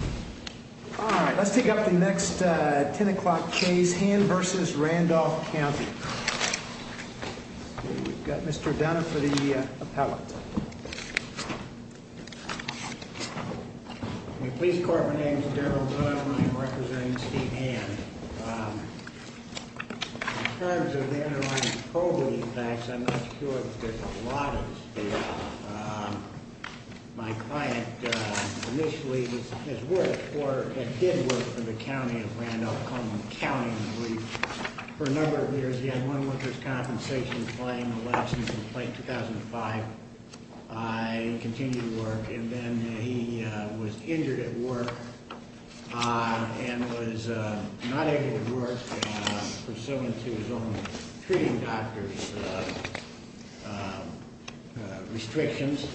All right, let's take up the next 10 o'clock case, Hand v. Randolph County. We've got Mr. Dunn for the appellate. In the police department, my name is Daryl Dunn and I'm representing Steve Hand. In terms of the underlying probing facts, I'm not sure that there's a lot of this data. My client initially did work for the county of Randolph County. For a number of years, he had one worker's compensation claim, a lapse in complaint in 2005. He continued to work and then he was injured at work and was not able to work. Pursuant to his own treating doctor's restrictions,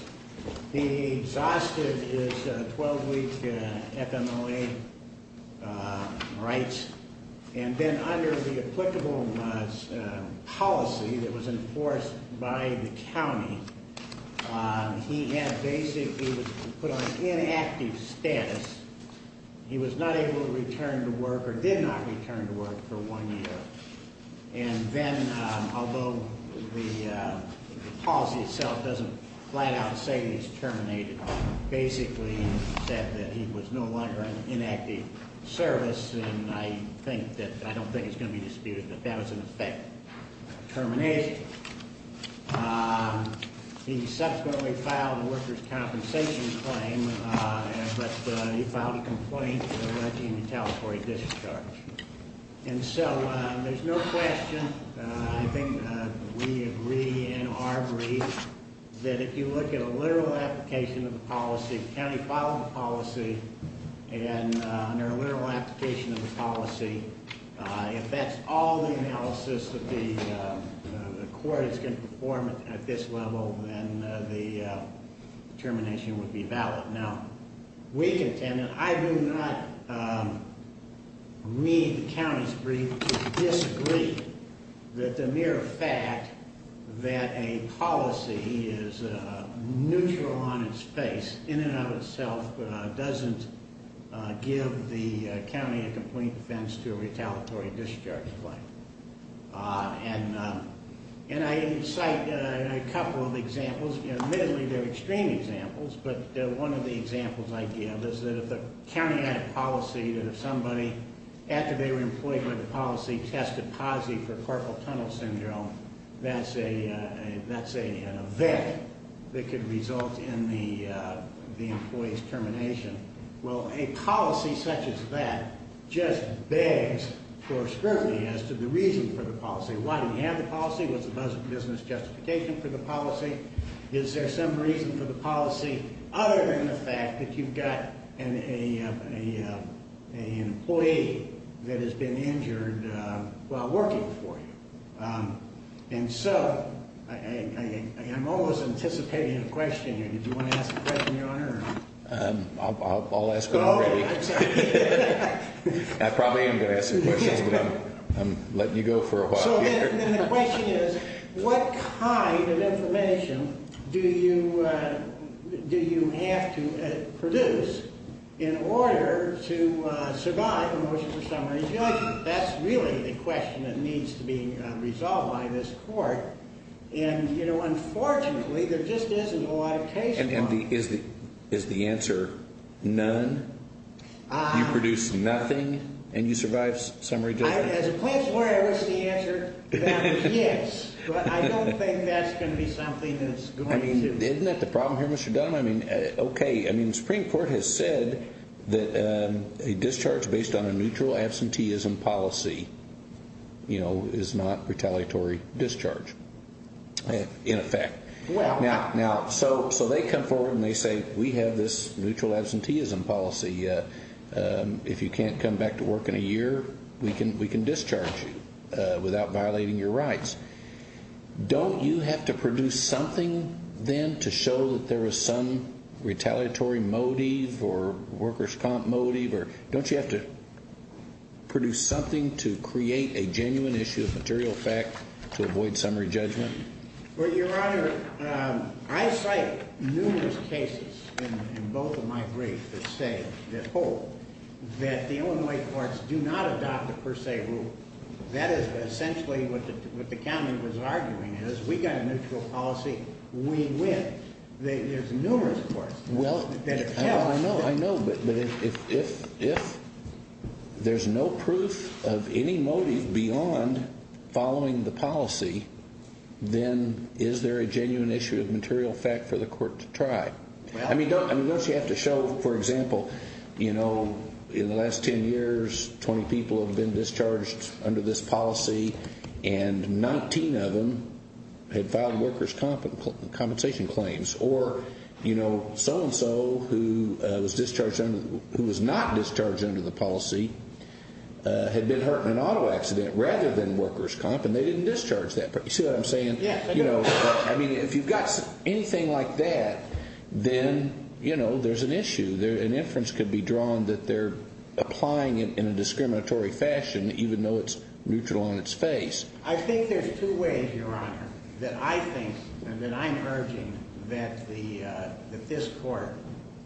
he exhausted his 12-week FMOA rights. And then under the applicable policy that was enforced by the county, he was put on inactive status. He was not able to return to work or did not return to work for one year. And then, although the policy itself doesn't flat out say that he's terminated, it basically said that he was no longer in active service and I don't think it's going to be disputed that that was in effect. He subsequently filed a worker's compensation claim, but he filed a complaint alleging a telephony discharge. And so, there's no question, I think we agree and are agreed, that if you look at a literal application of the policy, the county filed the policy, and under a literal application of the policy, if that's all the analysis that the court is going to perform at this level, then the termination would be valid. Now, we contend, and I do not read the county's brief to disagree, that the mere fact that a policy is neutral on its face, in and of itself, doesn't give the county a complaint defense to a retaliatory discharge claim. And I cite a couple of examples, admittedly they're extreme examples, but one of the examples I give is that if the county had a policy that if somebody, after they were employed by the policy, tested positive for carpal tunnel syndrome, that's an event that could result in the employee's termination. Well, a policy such as that just begs for scrutiny as to the reason for the policy. Why do we have the policy? What's the business justification for the policy? Is there some reason for the policy other than the fact that you've got an employee that has been injured while working for you? And so, I'm almost anticipating a question here. Do you want to ask a question, Your Honor? I'll ask it already. Oh, I'm sorry. I probably am going to ask some questions, but I'm letting you go for a while. So, then the question is, what kind of information do you have to produce in order to survive a motion for summary discharge? That's really the question that needs to be resolved by this court. And, you know, unfortunately, there just isn't a lot of case law. And is the answer none? You produce nothing and you survive summary discharge? As a place where I wish the answer was yes, but I don't think that's going to be something that's going to... Isn't that the problem here, Mr. Dunn? I mean, okay. I mean, the Supreme Court has said that a discharge based on a neutral absenteeism policy, you know, is not retaliatory discharge in effect. Now, so they come forward and they say we have this neutral absenteeism policy. If you can't come back to work in a year, we can discharge you without violating your rights. Don't you have to produce something then to show that there is some retaliatory motive or workers' comp motive? Or don't you have to produce something to create a genuine issue of material fact to avoid summary judgment? Well, Your Honor, I cite numerous cases in both of my briefs that say, that hold, that the Illinois courts do not adopt a per se rule. That is essentially what the county was arguing is we got a neutral policy, we win. There's numerous courts that have held... Then is there a genuine issue of material fact for the court to try? I mean, don't you have to show, for example, you know, in the last 10 years 20 people have been discharged under this policy and 19 of them had filed workers' compensation claims or, you know, so-and-so who was not discharged under the policy had been hurt in an auto accident rather than workers' comp and they didn't discharge that person. I mean, if you've got anything like that, then, you know, there's an issue. An inference could be drawn that they're applying it in a discriminatory fashion even though it's neutral on its face. I think there's two ways, Your Honor, that I think and that I'm urging that this court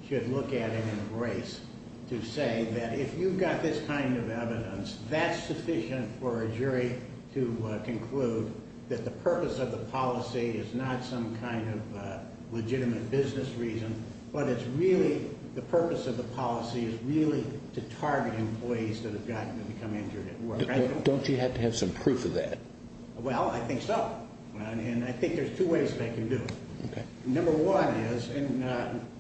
should look at and embrace to say that if you've got this kind of evidence, that's sufficient for a jury to conclude that the purpose of the policy is not some kind of legitimate business reason, but it's really the purpose of the policy is really to target employees that have gotten to become injured at work. Don't you have to have some proof of that? Well, I think so, and I think there's two ways they can do it. Number one is, and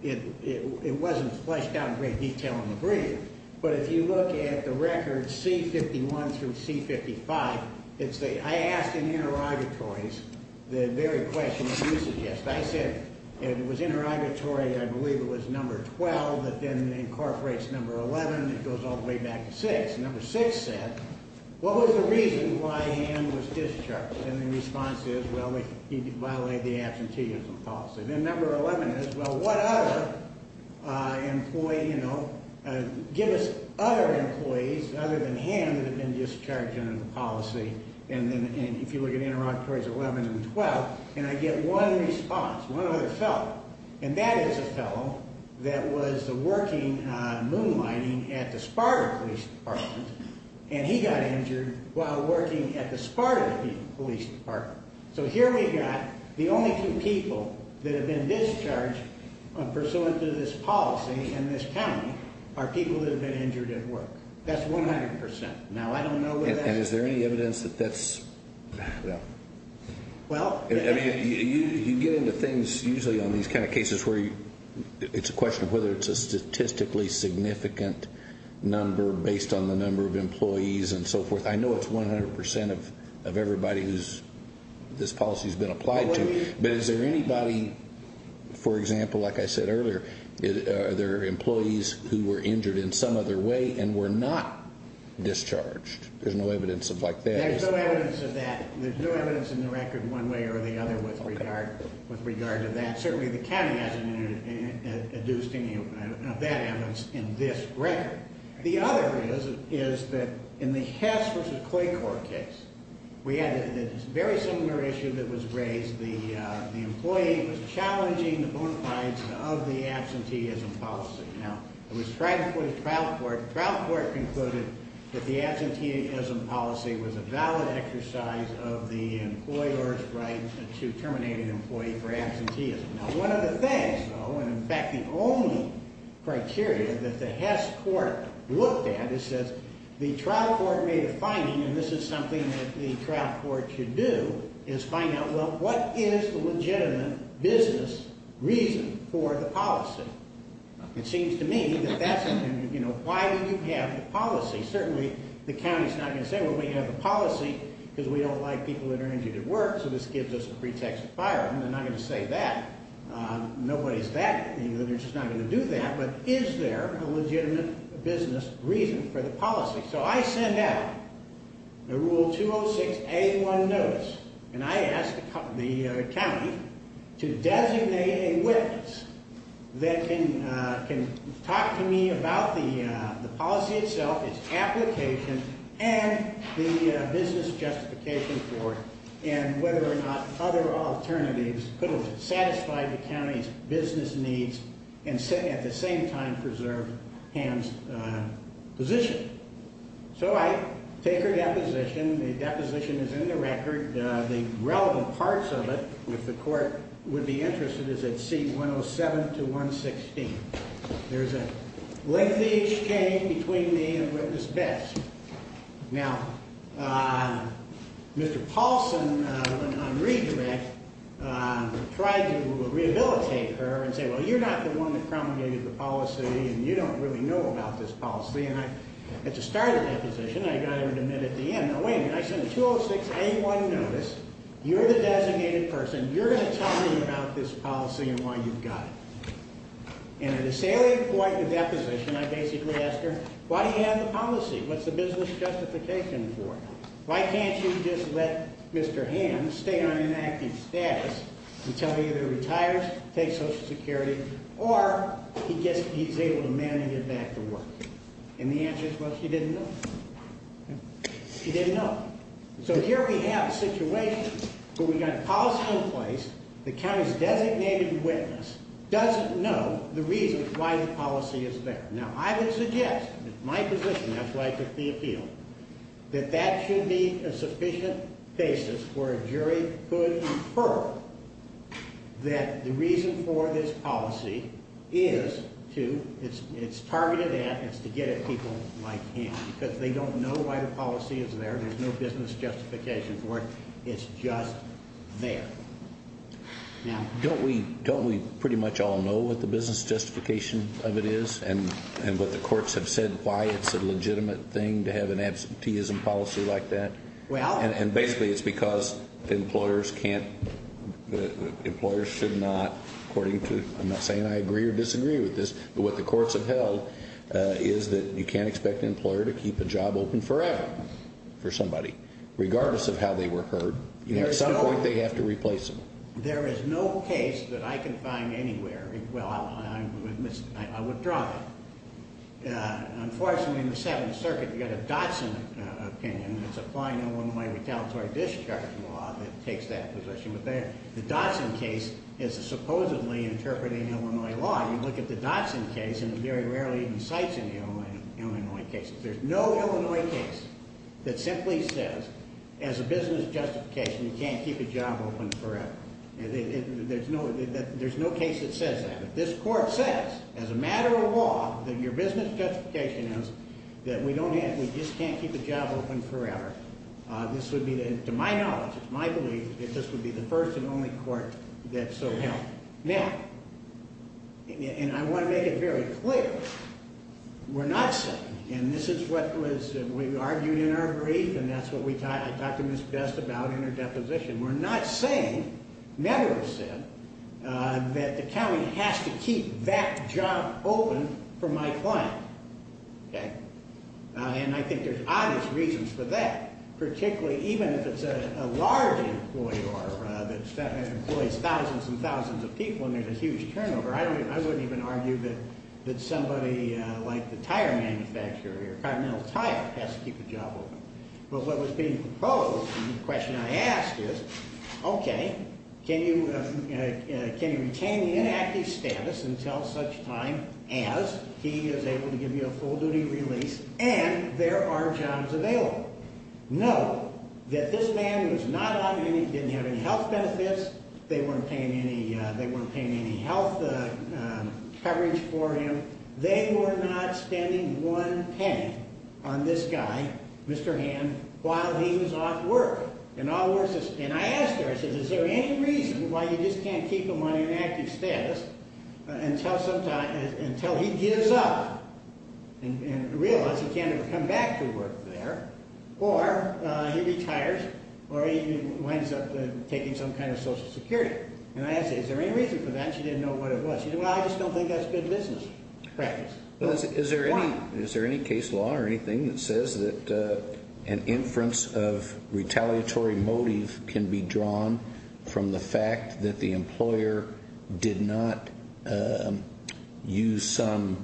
it wasn't fleshed out in great detail in the brief, but if you look at the record C-51 through C-55, I asked in interrogatories the very question that you suggested. I said it was interrogatory, I believe it was number 12, but then incorporates number 11, it goes all the way back to 6. Number 6 said, what was the reason why Ham was discharged? And the response is, well, he violated the absenteeism policy. And then number 11 is, well, what other employee, you know, give us other employees other than Ham that have been discharged under the policy. And then if you look at interrogatories 11 and 12, and I get one response, one other fellow, and that is a fellow that was working on moonlighting at the Sparta Police Department, and he got injured while working at the Sparta Police Department. So here we got the only two people that have been discharged pursuant to this policy in this county are people that have been injured at work. That's 100%. Now, I don't know whether that's... And is there any evidence that that's... Well... I mean, you get into things usually on these kind of cases where it's a question of whether it's a statistically significant number based on the number of employees and so forth. I know it's 100% of everybody who's... this policy's been applied to. But is there anybody, for example, like I said earlier, are there employees who were injured in some other way and were not discharged? There's no evidence of like that. There's no evidence of that. There's no evidence in the record one way or the other with regard to that. Certainly the county hasn't induced any of that evidence in this record. The other is that in the Hess v. Clay Court case, we had a very similar issue that was raised. The employee was challenging the bona fides of the absenteeism policy. Now, it was tried before the trial court. The trial court concluded that the absenteeism policy was a valid exercise of the employer's right to terminate an employee for absenteeism. Now, one of the things, though, and in fact the only criteria that the Hess court looked at, it says the trial court made a finding, and this is something that the trial court should do, is find out, well, what is the legitimate business reason for the policy? It seems to me that that's... you know, why do you have the policy? Certainly the county's not going to say, well, we have the policy because we don't like people that are injured at work, so this gives us a pretext to fire them. They're not going to say that. Nobody's that... they're just not going to do that, but is there a legitimate business reason for the policy? So I send out a Rule 206A1 notice, and I ask the county to designate a witness that can talk to me about the policy itself, its application, and the business justification for it, and whether or not other alternatives could have satisfied the county's business needs and at the same time preserved Ham's position. So I take her deposition. The deposition is in the record. The relevant parts of it, if the court would be interested, is at seat 107 to 116. There's a lengthy exchange between me and Witness Best. Now, Mr. Paulson, on redirect, tried to rehabilitate her and say, well, you're not the one that promulgated the policy, and you don't really know about this policy, and I had to start a deposition. I got her to admit at the end. Now, wait a minute. I sent a 206A1 notice. You're the designated person. You're going to tell me about this policy and why you've got it. And at a salient point in the deposition, I basically asked her, why do you have the policy? What's the business justification for it? Why can't you just let Mr. Ham stay on inactive status until he either retires, takes Social Security, or he's able to manage it back to work? And the answer is, well, she didn't know. She didn't know. So here we have a situation where we've got a policy in place, the county's designated witness doesn't know the reasons why the policy is there. Now, I would suggest, in my position, that's why I took the appeal, that that should be a sufficient basis where a jury could infer that the reason for this policy is to, it's targeted at, it's to get at people like him because they don't know why the policy is there. There's no business justification for it. It's just there. Now, don't we pretty much all know what the business justification of it is and what the courts have said, why it's a legitimate thing to have an absenteeism policy like that? And basically it's because employers can't, employers should not, according to, I'm not saying I agree or disagree with this, but what the courts have held is that you can't expect an employer to keep a job open forever for somebody, regardless of how they were hurt. At some point they have to replace them. There is no case that I can find anywhere, well, I withdraw that. Unfortunately, in the Seventh Circuit you've got a Dotson opinion that's applying Illinois retaliatory discharge law that takes that position, but the Dotson case is supposedly interpreting Illinois law. Well, you look at the Dotson case and it very rarely even cites an Illinois case. There's no Illinois case that simply says, as a business justification, you can't keep a job open forever. There's no case that says that. If this court says, as a matter of law, that your business justification is that we don't have, we just can't keep a job open forever, this would be, to my knowledge, it's my belief, that this would be the first and only court that so held. Now, and I want to make it very clear, we're not saying, and this is what was, we argued in our brief and that's what I talked to Ms. Best about in her deposition, we're not saying, never have said, that the county has to keep that job open for my client. Okay? And I think there's obvious reasons for that, particularly even if it's a large employer that employs thousands and thousands of people and there's a huge turnover, I wouldn't even argue that somebody like the tire manufacturer or continental tire has to keep a job open. But what was being proposed and the question I asked is, okay, can you retain the inactive status until such time as he is able to give you a full duty release and there are jobs available? No, that this man was not on any, didn't have any health benefits, they weren't paying any health coverage for him, they were not spending one penny on this guy, Mr. Hamm, while he was off work. And I asked her, I said, is there any reason why you just can't keep him on inactive status until he gives up and realizes he can't ever come back to work there or he retires or he winds up taking some kind of social security? And I asked her, is there any reason for that? She didn't know what it was. She said, well, I just don't think that's good business practice. Is there any case law or anything that says that an inference of retaliatory motive can be drawn from the fact that the employer did not use some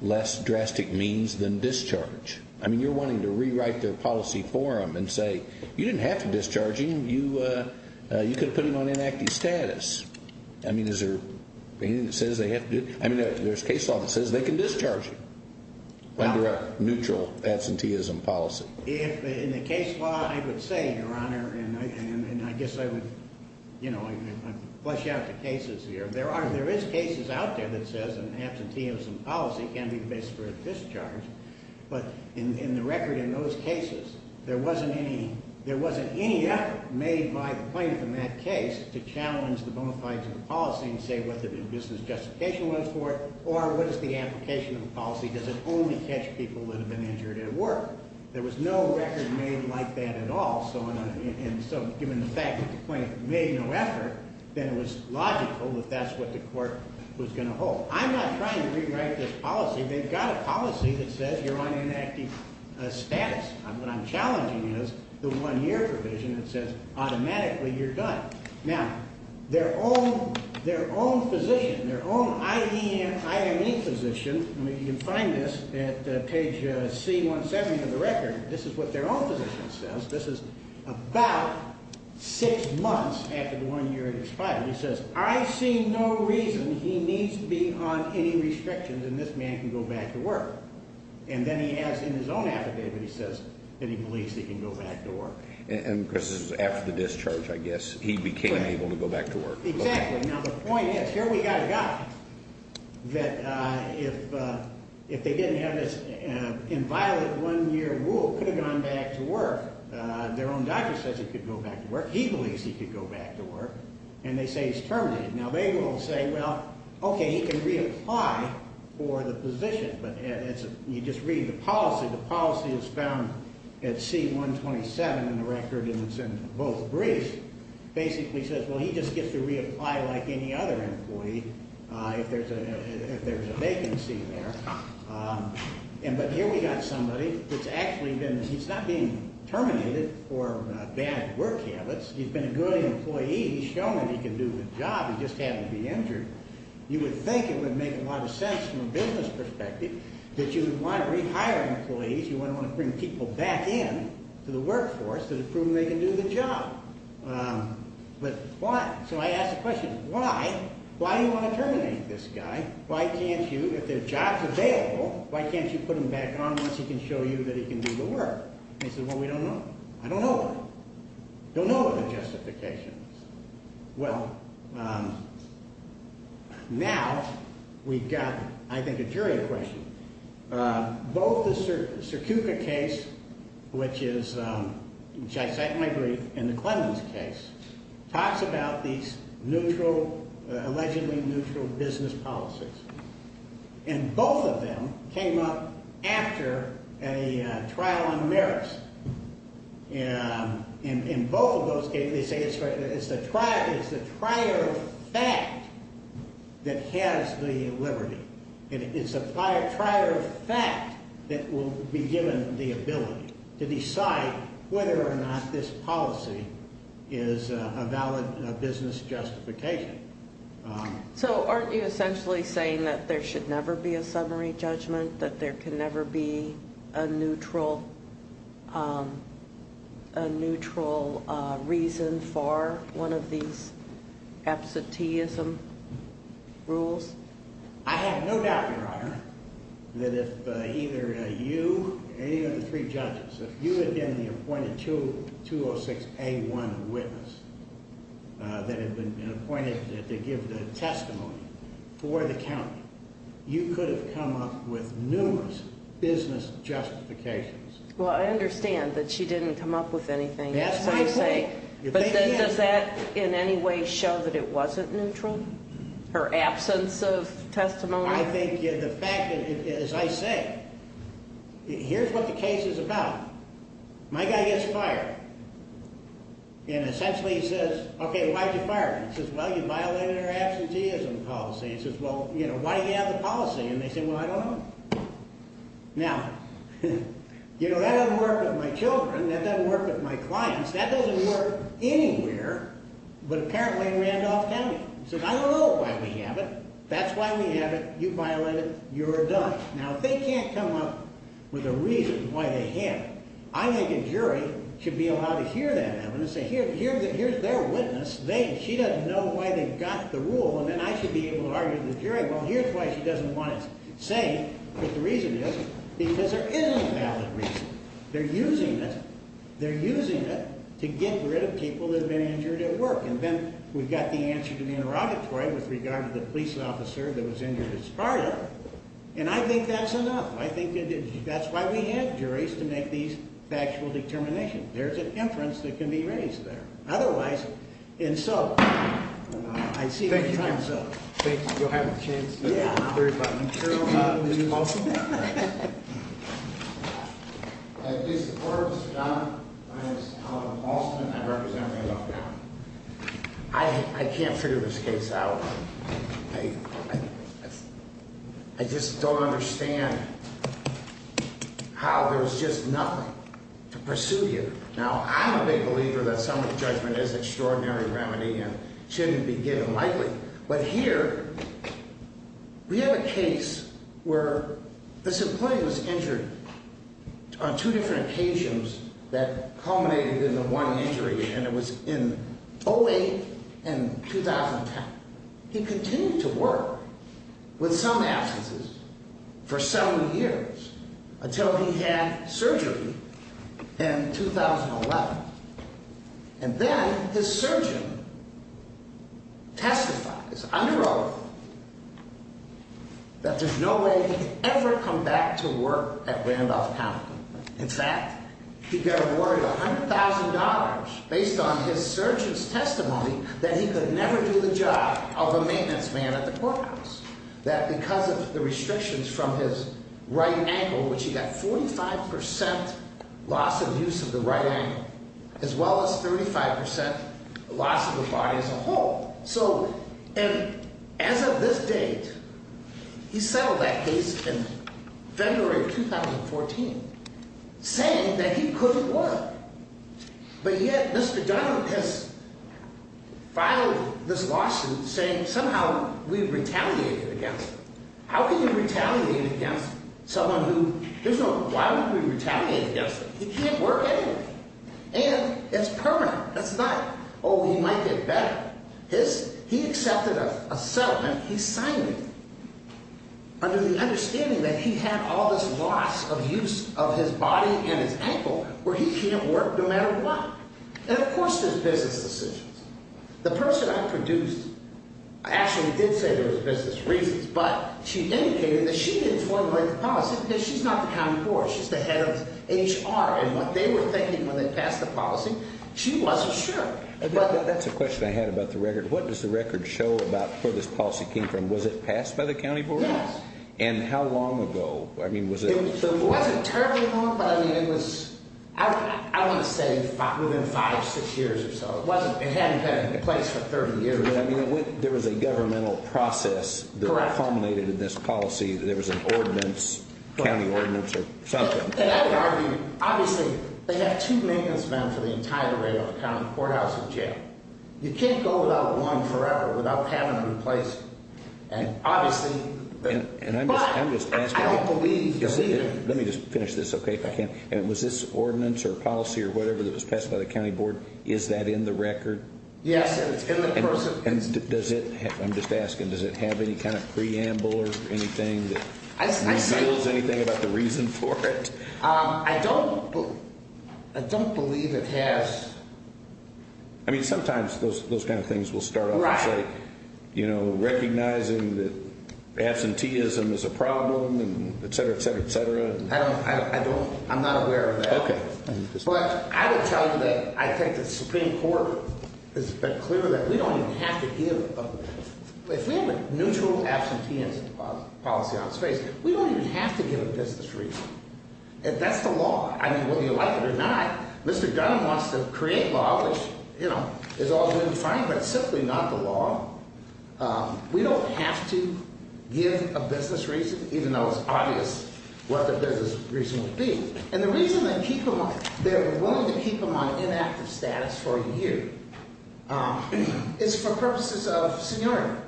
less drastic means than discharge? I mean, you're wanting to rewrite their policy for them and say, you didn't have to discharge him, you could have put him on inactive status. I mean, is there anything that says they have to do, I mean, there's case law that says they can discharge him under a neutral absenteeism policy. If in the case law, I would say, Your Honor, and I guess I would, you know, flesh out the cases here. There are, there is cases out there that says an absenteeism policy can be the basis for a discharge, but in the record in those cases, there wasn't any effort made by the plaintiff in that case to challenge the bona fides of the policy and say what the business justification was for it or what is the application of the policy. Does it only catch people that have been injured at work? There was no record made like that at all. So given the fact that the plaintiff made no effort, then it was logical that that's what the court was going to hold. I'm not trying to rewrite this policy. They've got a policy that says you're on inactive status. What I'm challenging is the one year provision that says automatically you're done. Now, their own physician, their own I.D. and I.M.E. physician, I mean, you can find this at page C170 of the record, this is what their own physician says. This is about six months after the one year expired. He says, I see no reason he needs to be on any restrictions and this man can go back to work. And then he has in his own affidavit, he says that he believes he can go back to work. And this is after the discharge, I guess. He became able to go back to work. Exactly. Now, the point is, here we've got a guy that if they didn't have this inviolate one year rule, could have gone back to work. Their own doctor says he could go back to work. He believes he could go back to work. And they say he's terminated. Now, they will say, well, okay, he can reapply for the position, but you just read the policy. The policy is found at C127 in the record and it's in both briefs. Basically says, well, he just gets to reapply like any other employee if there's a vacancy there. But here we've got somebody that's actually been, he's not being terminated for bad work habits. He's been a good employee. He's shown that he can do the job, he just happened to be injured. You would think it would make a lot of sense from a business perspective that you would want to rehire employees, you would want to bring people back in to the workforce that have proven they can do the job. But why? So I ask the question, why? Why do you want to terminate this guy? Why can't you, if there's jobs available, why can't you put him back on once he can show you that he can do the work? And he says, well, we don't know. I don't know why. Don't know what the justification is. Well, now we've got, I think, a jury question. Both the Cercuca case, which is, which I cite in my brief, and the Clemens case talks about these neutral, allegedly neutral business policies. And both of them came up after a trial on merits. In both of those cases, they say it's the prior fact that has the liberty. It's the prior fact that will be given the ability to decide whether or not this policy is a valid business justification. So aren't you essentially saying that there should never be a summary judgment, that there can never be a neutral, a neutral reason for one of these absenteeism rules? I have no doubt, Your Honor, that if either you or any of the three judges, if you had been the appointed 206A1 witness that had been appointed to give the testimony for the county, you could have come up with numerous business justifications. Well, I understand that she didn't come up with anything. But does that in any way show that it wasn't neutral, her absence of testimony? I think the fact, as I say, here's what the case is about. My guy gets fired. And essentially he says, okay, why'd you fire him? He says, well, you violated our absenteeism policy. He says, well, you know, why do you have the policy? And they say, well, I don't know. Now, you know, that doesn't work with my children. That doesn't work with my clients. That doesn't work anywhere but apparently in Randolph County. He says, I don't know why we have it. That's why we have it. You violated it. You're done. Now, if they can't come up with a reason why they have it, I think a jury should be allowed to hear that evidence and say, here's their witness. She doesn't know why they've got the rule. And then I should be able to argue with the jury, well, here's why she doesn't want it. Say that the reason is because there isn't a valid reason. They're using it. They're using it to get rid of people that have been injured at work. And then we've got the answer to the interrogatory with regard to the police officer that was injured at Sparta. And I think that's enough. I think that's why we have juries to make these factual determinations. There's an inference that can be raised there. Otherwise, and so I see. I can't figure this case out. I just don't understand how there's just nothing to pursue here. Now, I'm a big believer that summary judgment is an extraordinary remedy and shouldn't be given lightly. But here we have a case where this employee was injured on two different occasions that culminated in the one injury, and it was in 08 and 2010. Now, he continued to work with some absences for seven years until he had surgery in 2011. And then his surgeon testified, this under oath, that there's no way he could ever come back to work at Randolph-County. In fact, he got awarded $100,000 based on his surgeon's testimony that he could never do the job of a maintenance man at the corpus. That because of the restrictions from his right ankle, which he got 45% loss of use of the right ankle, as well as 35% loss of the body as a whole. And as of this date, he settled that case in February of 2014, saying that he couldn't work. But yet, Mr. Donald has filed this lawsuit saying somehow we retaliated against him. How can you retaliate against someone who there's no why would we retaliate against him? He can't work anyway. And it's permanent. That's not, oh, he might get better. He accepted a settlement. He signed it under the understanding that he had all this loss of use of his body and his ankle where he can't work no matter what. And, of course, there's business decisions. The person I produced actually did say there was business reasons, but she indicated that she didn't formulate the policy because she's not the county board. She's the head of HR. And what they were thinking when they passed the policy, she wasn't sure. That's a question I had about the record. What does the record show about where this policy came from? Was it passed by the county board? Yes. And how long ago? I mean, was it? It wasn't terribly long, but I mean, it was, I want to say within five, six years or so. It hadn't been in place for 30 years. I mean, there was a governmental process that culminated in this policy. There was an ordinance, county ordinance or something. And I would argue, obviously, they have two names, man, for the entire array of the county courthouse and jail. You can't go without one forever without having them in place. And, obviously, but I don't believe you'll see it. Let me just finish this, okay, if I can. And was this ordinance or policy or whatever that was passed by the county board, is that in the record? Yes, and it's in the cursive. I'm just asking, does it have any kind of preamble or anything that reveals anything about the reason for it? I don't believe it has. I mean, sometimes those kind of things will start off and say, you know, recognizing that absenteeism is a problem and et cetera, et cetera, et cetera. Okay. But I would tell you that I think the Supreme Court has been clear that we don't even have to give, if we have a neutral absenteeism policy on the space, we don't even have to give a business reason. And that's the law. I mean, whether you like it or not, Mr. Gunn wants to create law, which, you know, is all good and fine, but simply not the law. We don't have to give a business reason, even though it's obvious what the business reason would be. And the reason they're willing to keep him on inactive status for a year is for purposes of seniority.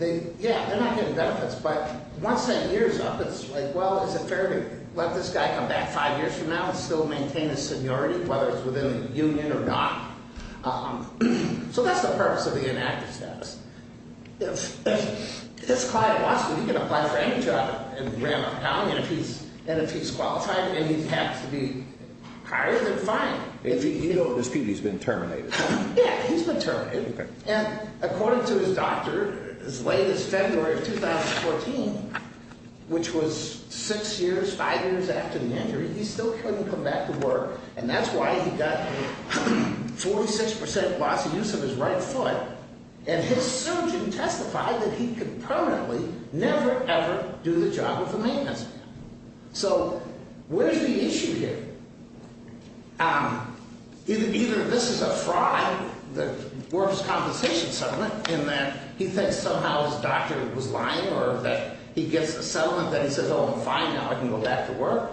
Yeah, they're not getting benefits, but once that year's up, it's like, well, is it fair to let this guy come back five years from now and still maintain his seniority, whether it's within the union or not? So that's the purpose of the inactive status. If this client wants to, he can apply for any job in the realm of accounting, and if he's qualified and he happens to be hired, then fine. You know his PD's been terminated. Yeah, he's been terminated. And according to his doctor, as late as February of 2014, which was six years, five years after the injury, he still couldn't come back to work. And that's why he got a 46% loss of use of his right foot, and his surgeon testified that he could permanently never, ever do the job of the maintenance. So where's the issue here? Either this is a fraud that works compensation settlement in that he thinks somehow his doctor was lying or that he gets a settlement that he says, oh, fine, now I can go back to work.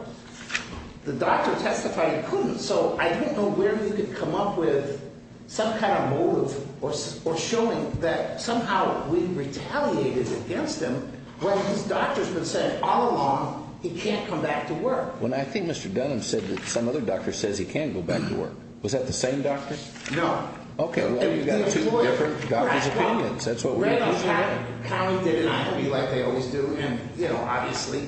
The doctor testified he couldn't, so I don't know where he could come up with some kind of motive or showing that somehow we retaliated against him when his doctor's been saying all along he can't come back to work. Well, I think Mr. Dunham said that some other doctor says he can go back to work. Was that the same doctor? No. Okay, well, you've got two different doctors' opinions. That's what we're looking for. Right on. Cowie did an interview, like they always do, and, you know, obviously,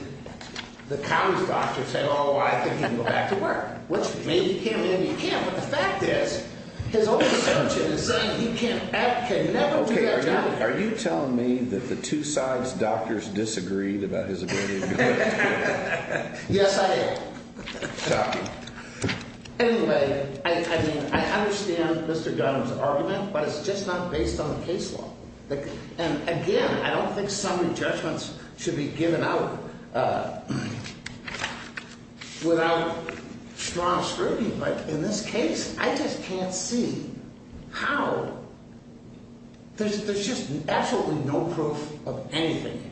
the Cowie's doctor said, oh, I think he can go back to work, which maybe he can, maybe he can't. But the fact is, his own assumption is saying he can never do that job again. Okay, are you telling me that the two sides' doctors disagreed about his ability to go back to work? Yes, I did. Shocking. Anyway, I mean, I understand Mr. Dunham's argument, but it's just not based on the case law. And, again, I don't think summary judgments should be given out without strong scrutiny. But in this case, I just can't see how. There's just absolutely no proof of anything.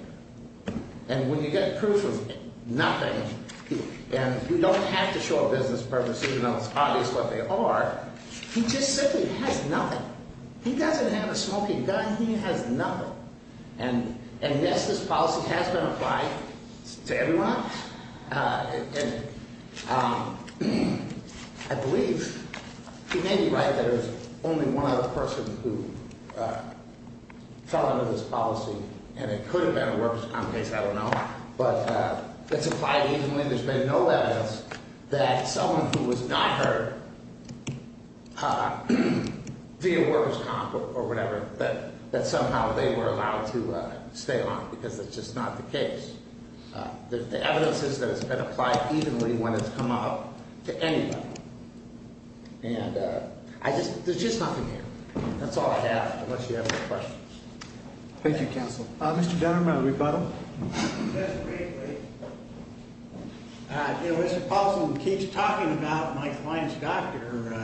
And when you get proof of nothing, and we don't have to show a business purpose, even though it's obvious what they are, he just simply has nothing. He doesn't have a smoking gun. He has nothing. And, yes, this policy has been applied to everyone. And I believe he may be right that it was only one other person who fell under this policy, and it could have been a workers' comp case. I don't know. But it's applied easily, and there's been no evidence that someone who was not hurt via workers' comp or whatever, that somehow they were allowed to stay long because it's just not the case. The evidence is that it's been applied evenly when it's come up to anybody. And I just – there's just nothing here. That's all I have unless you have more questions. Thank you, counsel. Mr. Dunham, a rebuttal? Yes, please. You know, Mr. Paulson keeps talking about my client's doctor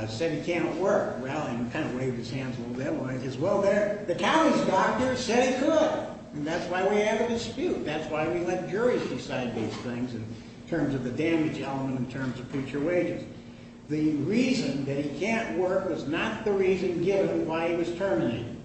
said he can't work. Well, he kind of waved his hands a little bit. Well, the county's doctor said he could. And that's why we have a dispute. That's why we let juries decide these things in terms of the damage element in terms of future wages. The reason that he can't work was not the reason given why he was terminated.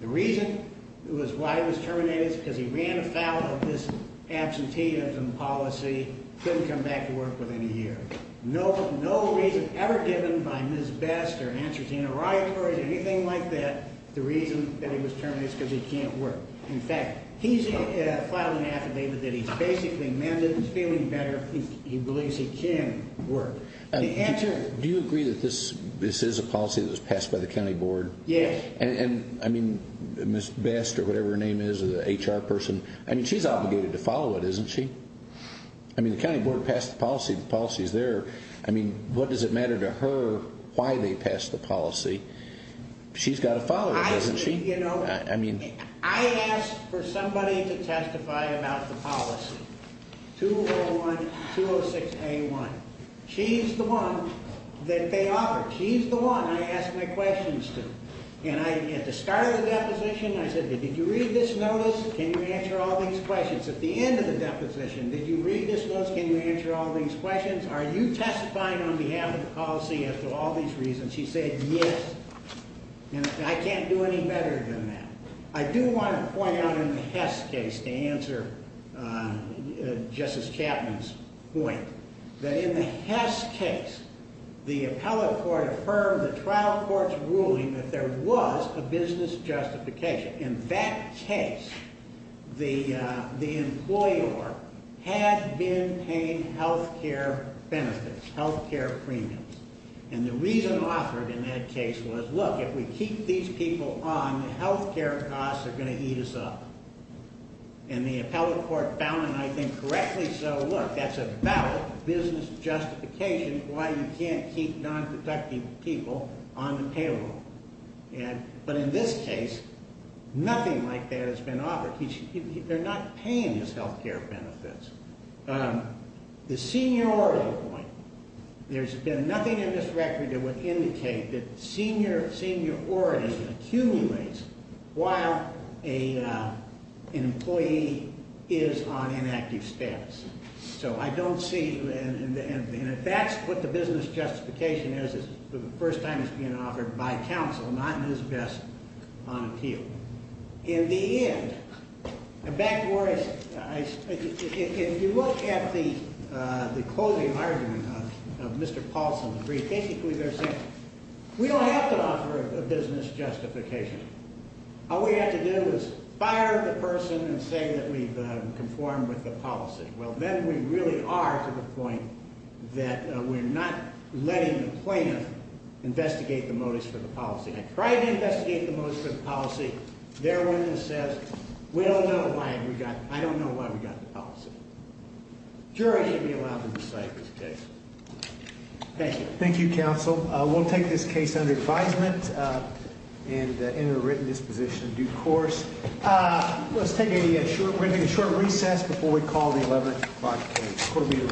The reason it was why he was terminated is because he ran afoul of his absenteeism policy, couldn't come back to work within a year. No reason ever given by Ms. Best or answer to any rioters, anything like that, the reason that he was terminated is because he can't work. In fact, he's filed an affidavit that he's basically mentally feeling better. He believes he can work. Do you agree that this is a policy that was passed by the county board? Yes. And, I mean, Ms. Best or whatever her name is or the HR person, I mean, she's obligated to follow it, isn't she? I mean, the county board passed the policy. The policy's there. I mean, what does it matter to her why they passed the policy? She's got to follow it, doesn't she? I asked for somebody to testify about the policy, 201-206A1. She's the one that they offered. She's the one I asked my questions to. And at the start of the deposition, I said, did you read this notice? Can you answer all these questions? At the end of the deposition, did you read this notice? Can you answer all these questions? Are you testifying on behalf of the policy as to all these reasons? She said, yes. And I can't do any better than that. I do want to point out in the Hess case, to answer Justice Chapman's point, that in the Hess case, the appellate court affirmed the trial court's ruling that there was a business justification. In that case, the employer had been paying health care benefits, health care premiums. And the reason offered in that case was, look, if we keep these people on, the health care costs are going to eat us up. And the appellate court found, and I think correctly so, look, that's a valid business justification why you can't keep non-productive people on the payroll. But in this case, nothing like that has been offered. They're not paying these health care benefits. The seniority point, there's been nothing in this record that would indicate that seniority accumulates while an employee is on inactive status. So I don't see, and if that's what the business justification is, it's the first time it's been offered by counsel and not in his best on appeal. In the end, if you look at the closing argument of Mr. Paulson's brief, basically they're saying, we don't have to offer a business justification. All we have to do is fire the person and say that we've conformed with the policy. Well, then we really are to the point that we're not letting the plaintiff investigate the motives for the policy. I tried to investigate the motives for the policy. Their witness says, we don't know why we got, I don't know why we got the policy. Jury should be allowed to decide this case. Thank you. Thank you, counsel. We'll take this case under advisement and enter a written disposition in due course. Let's take a short, we're going to take a short recess before we call the 11 o'clock court meeting.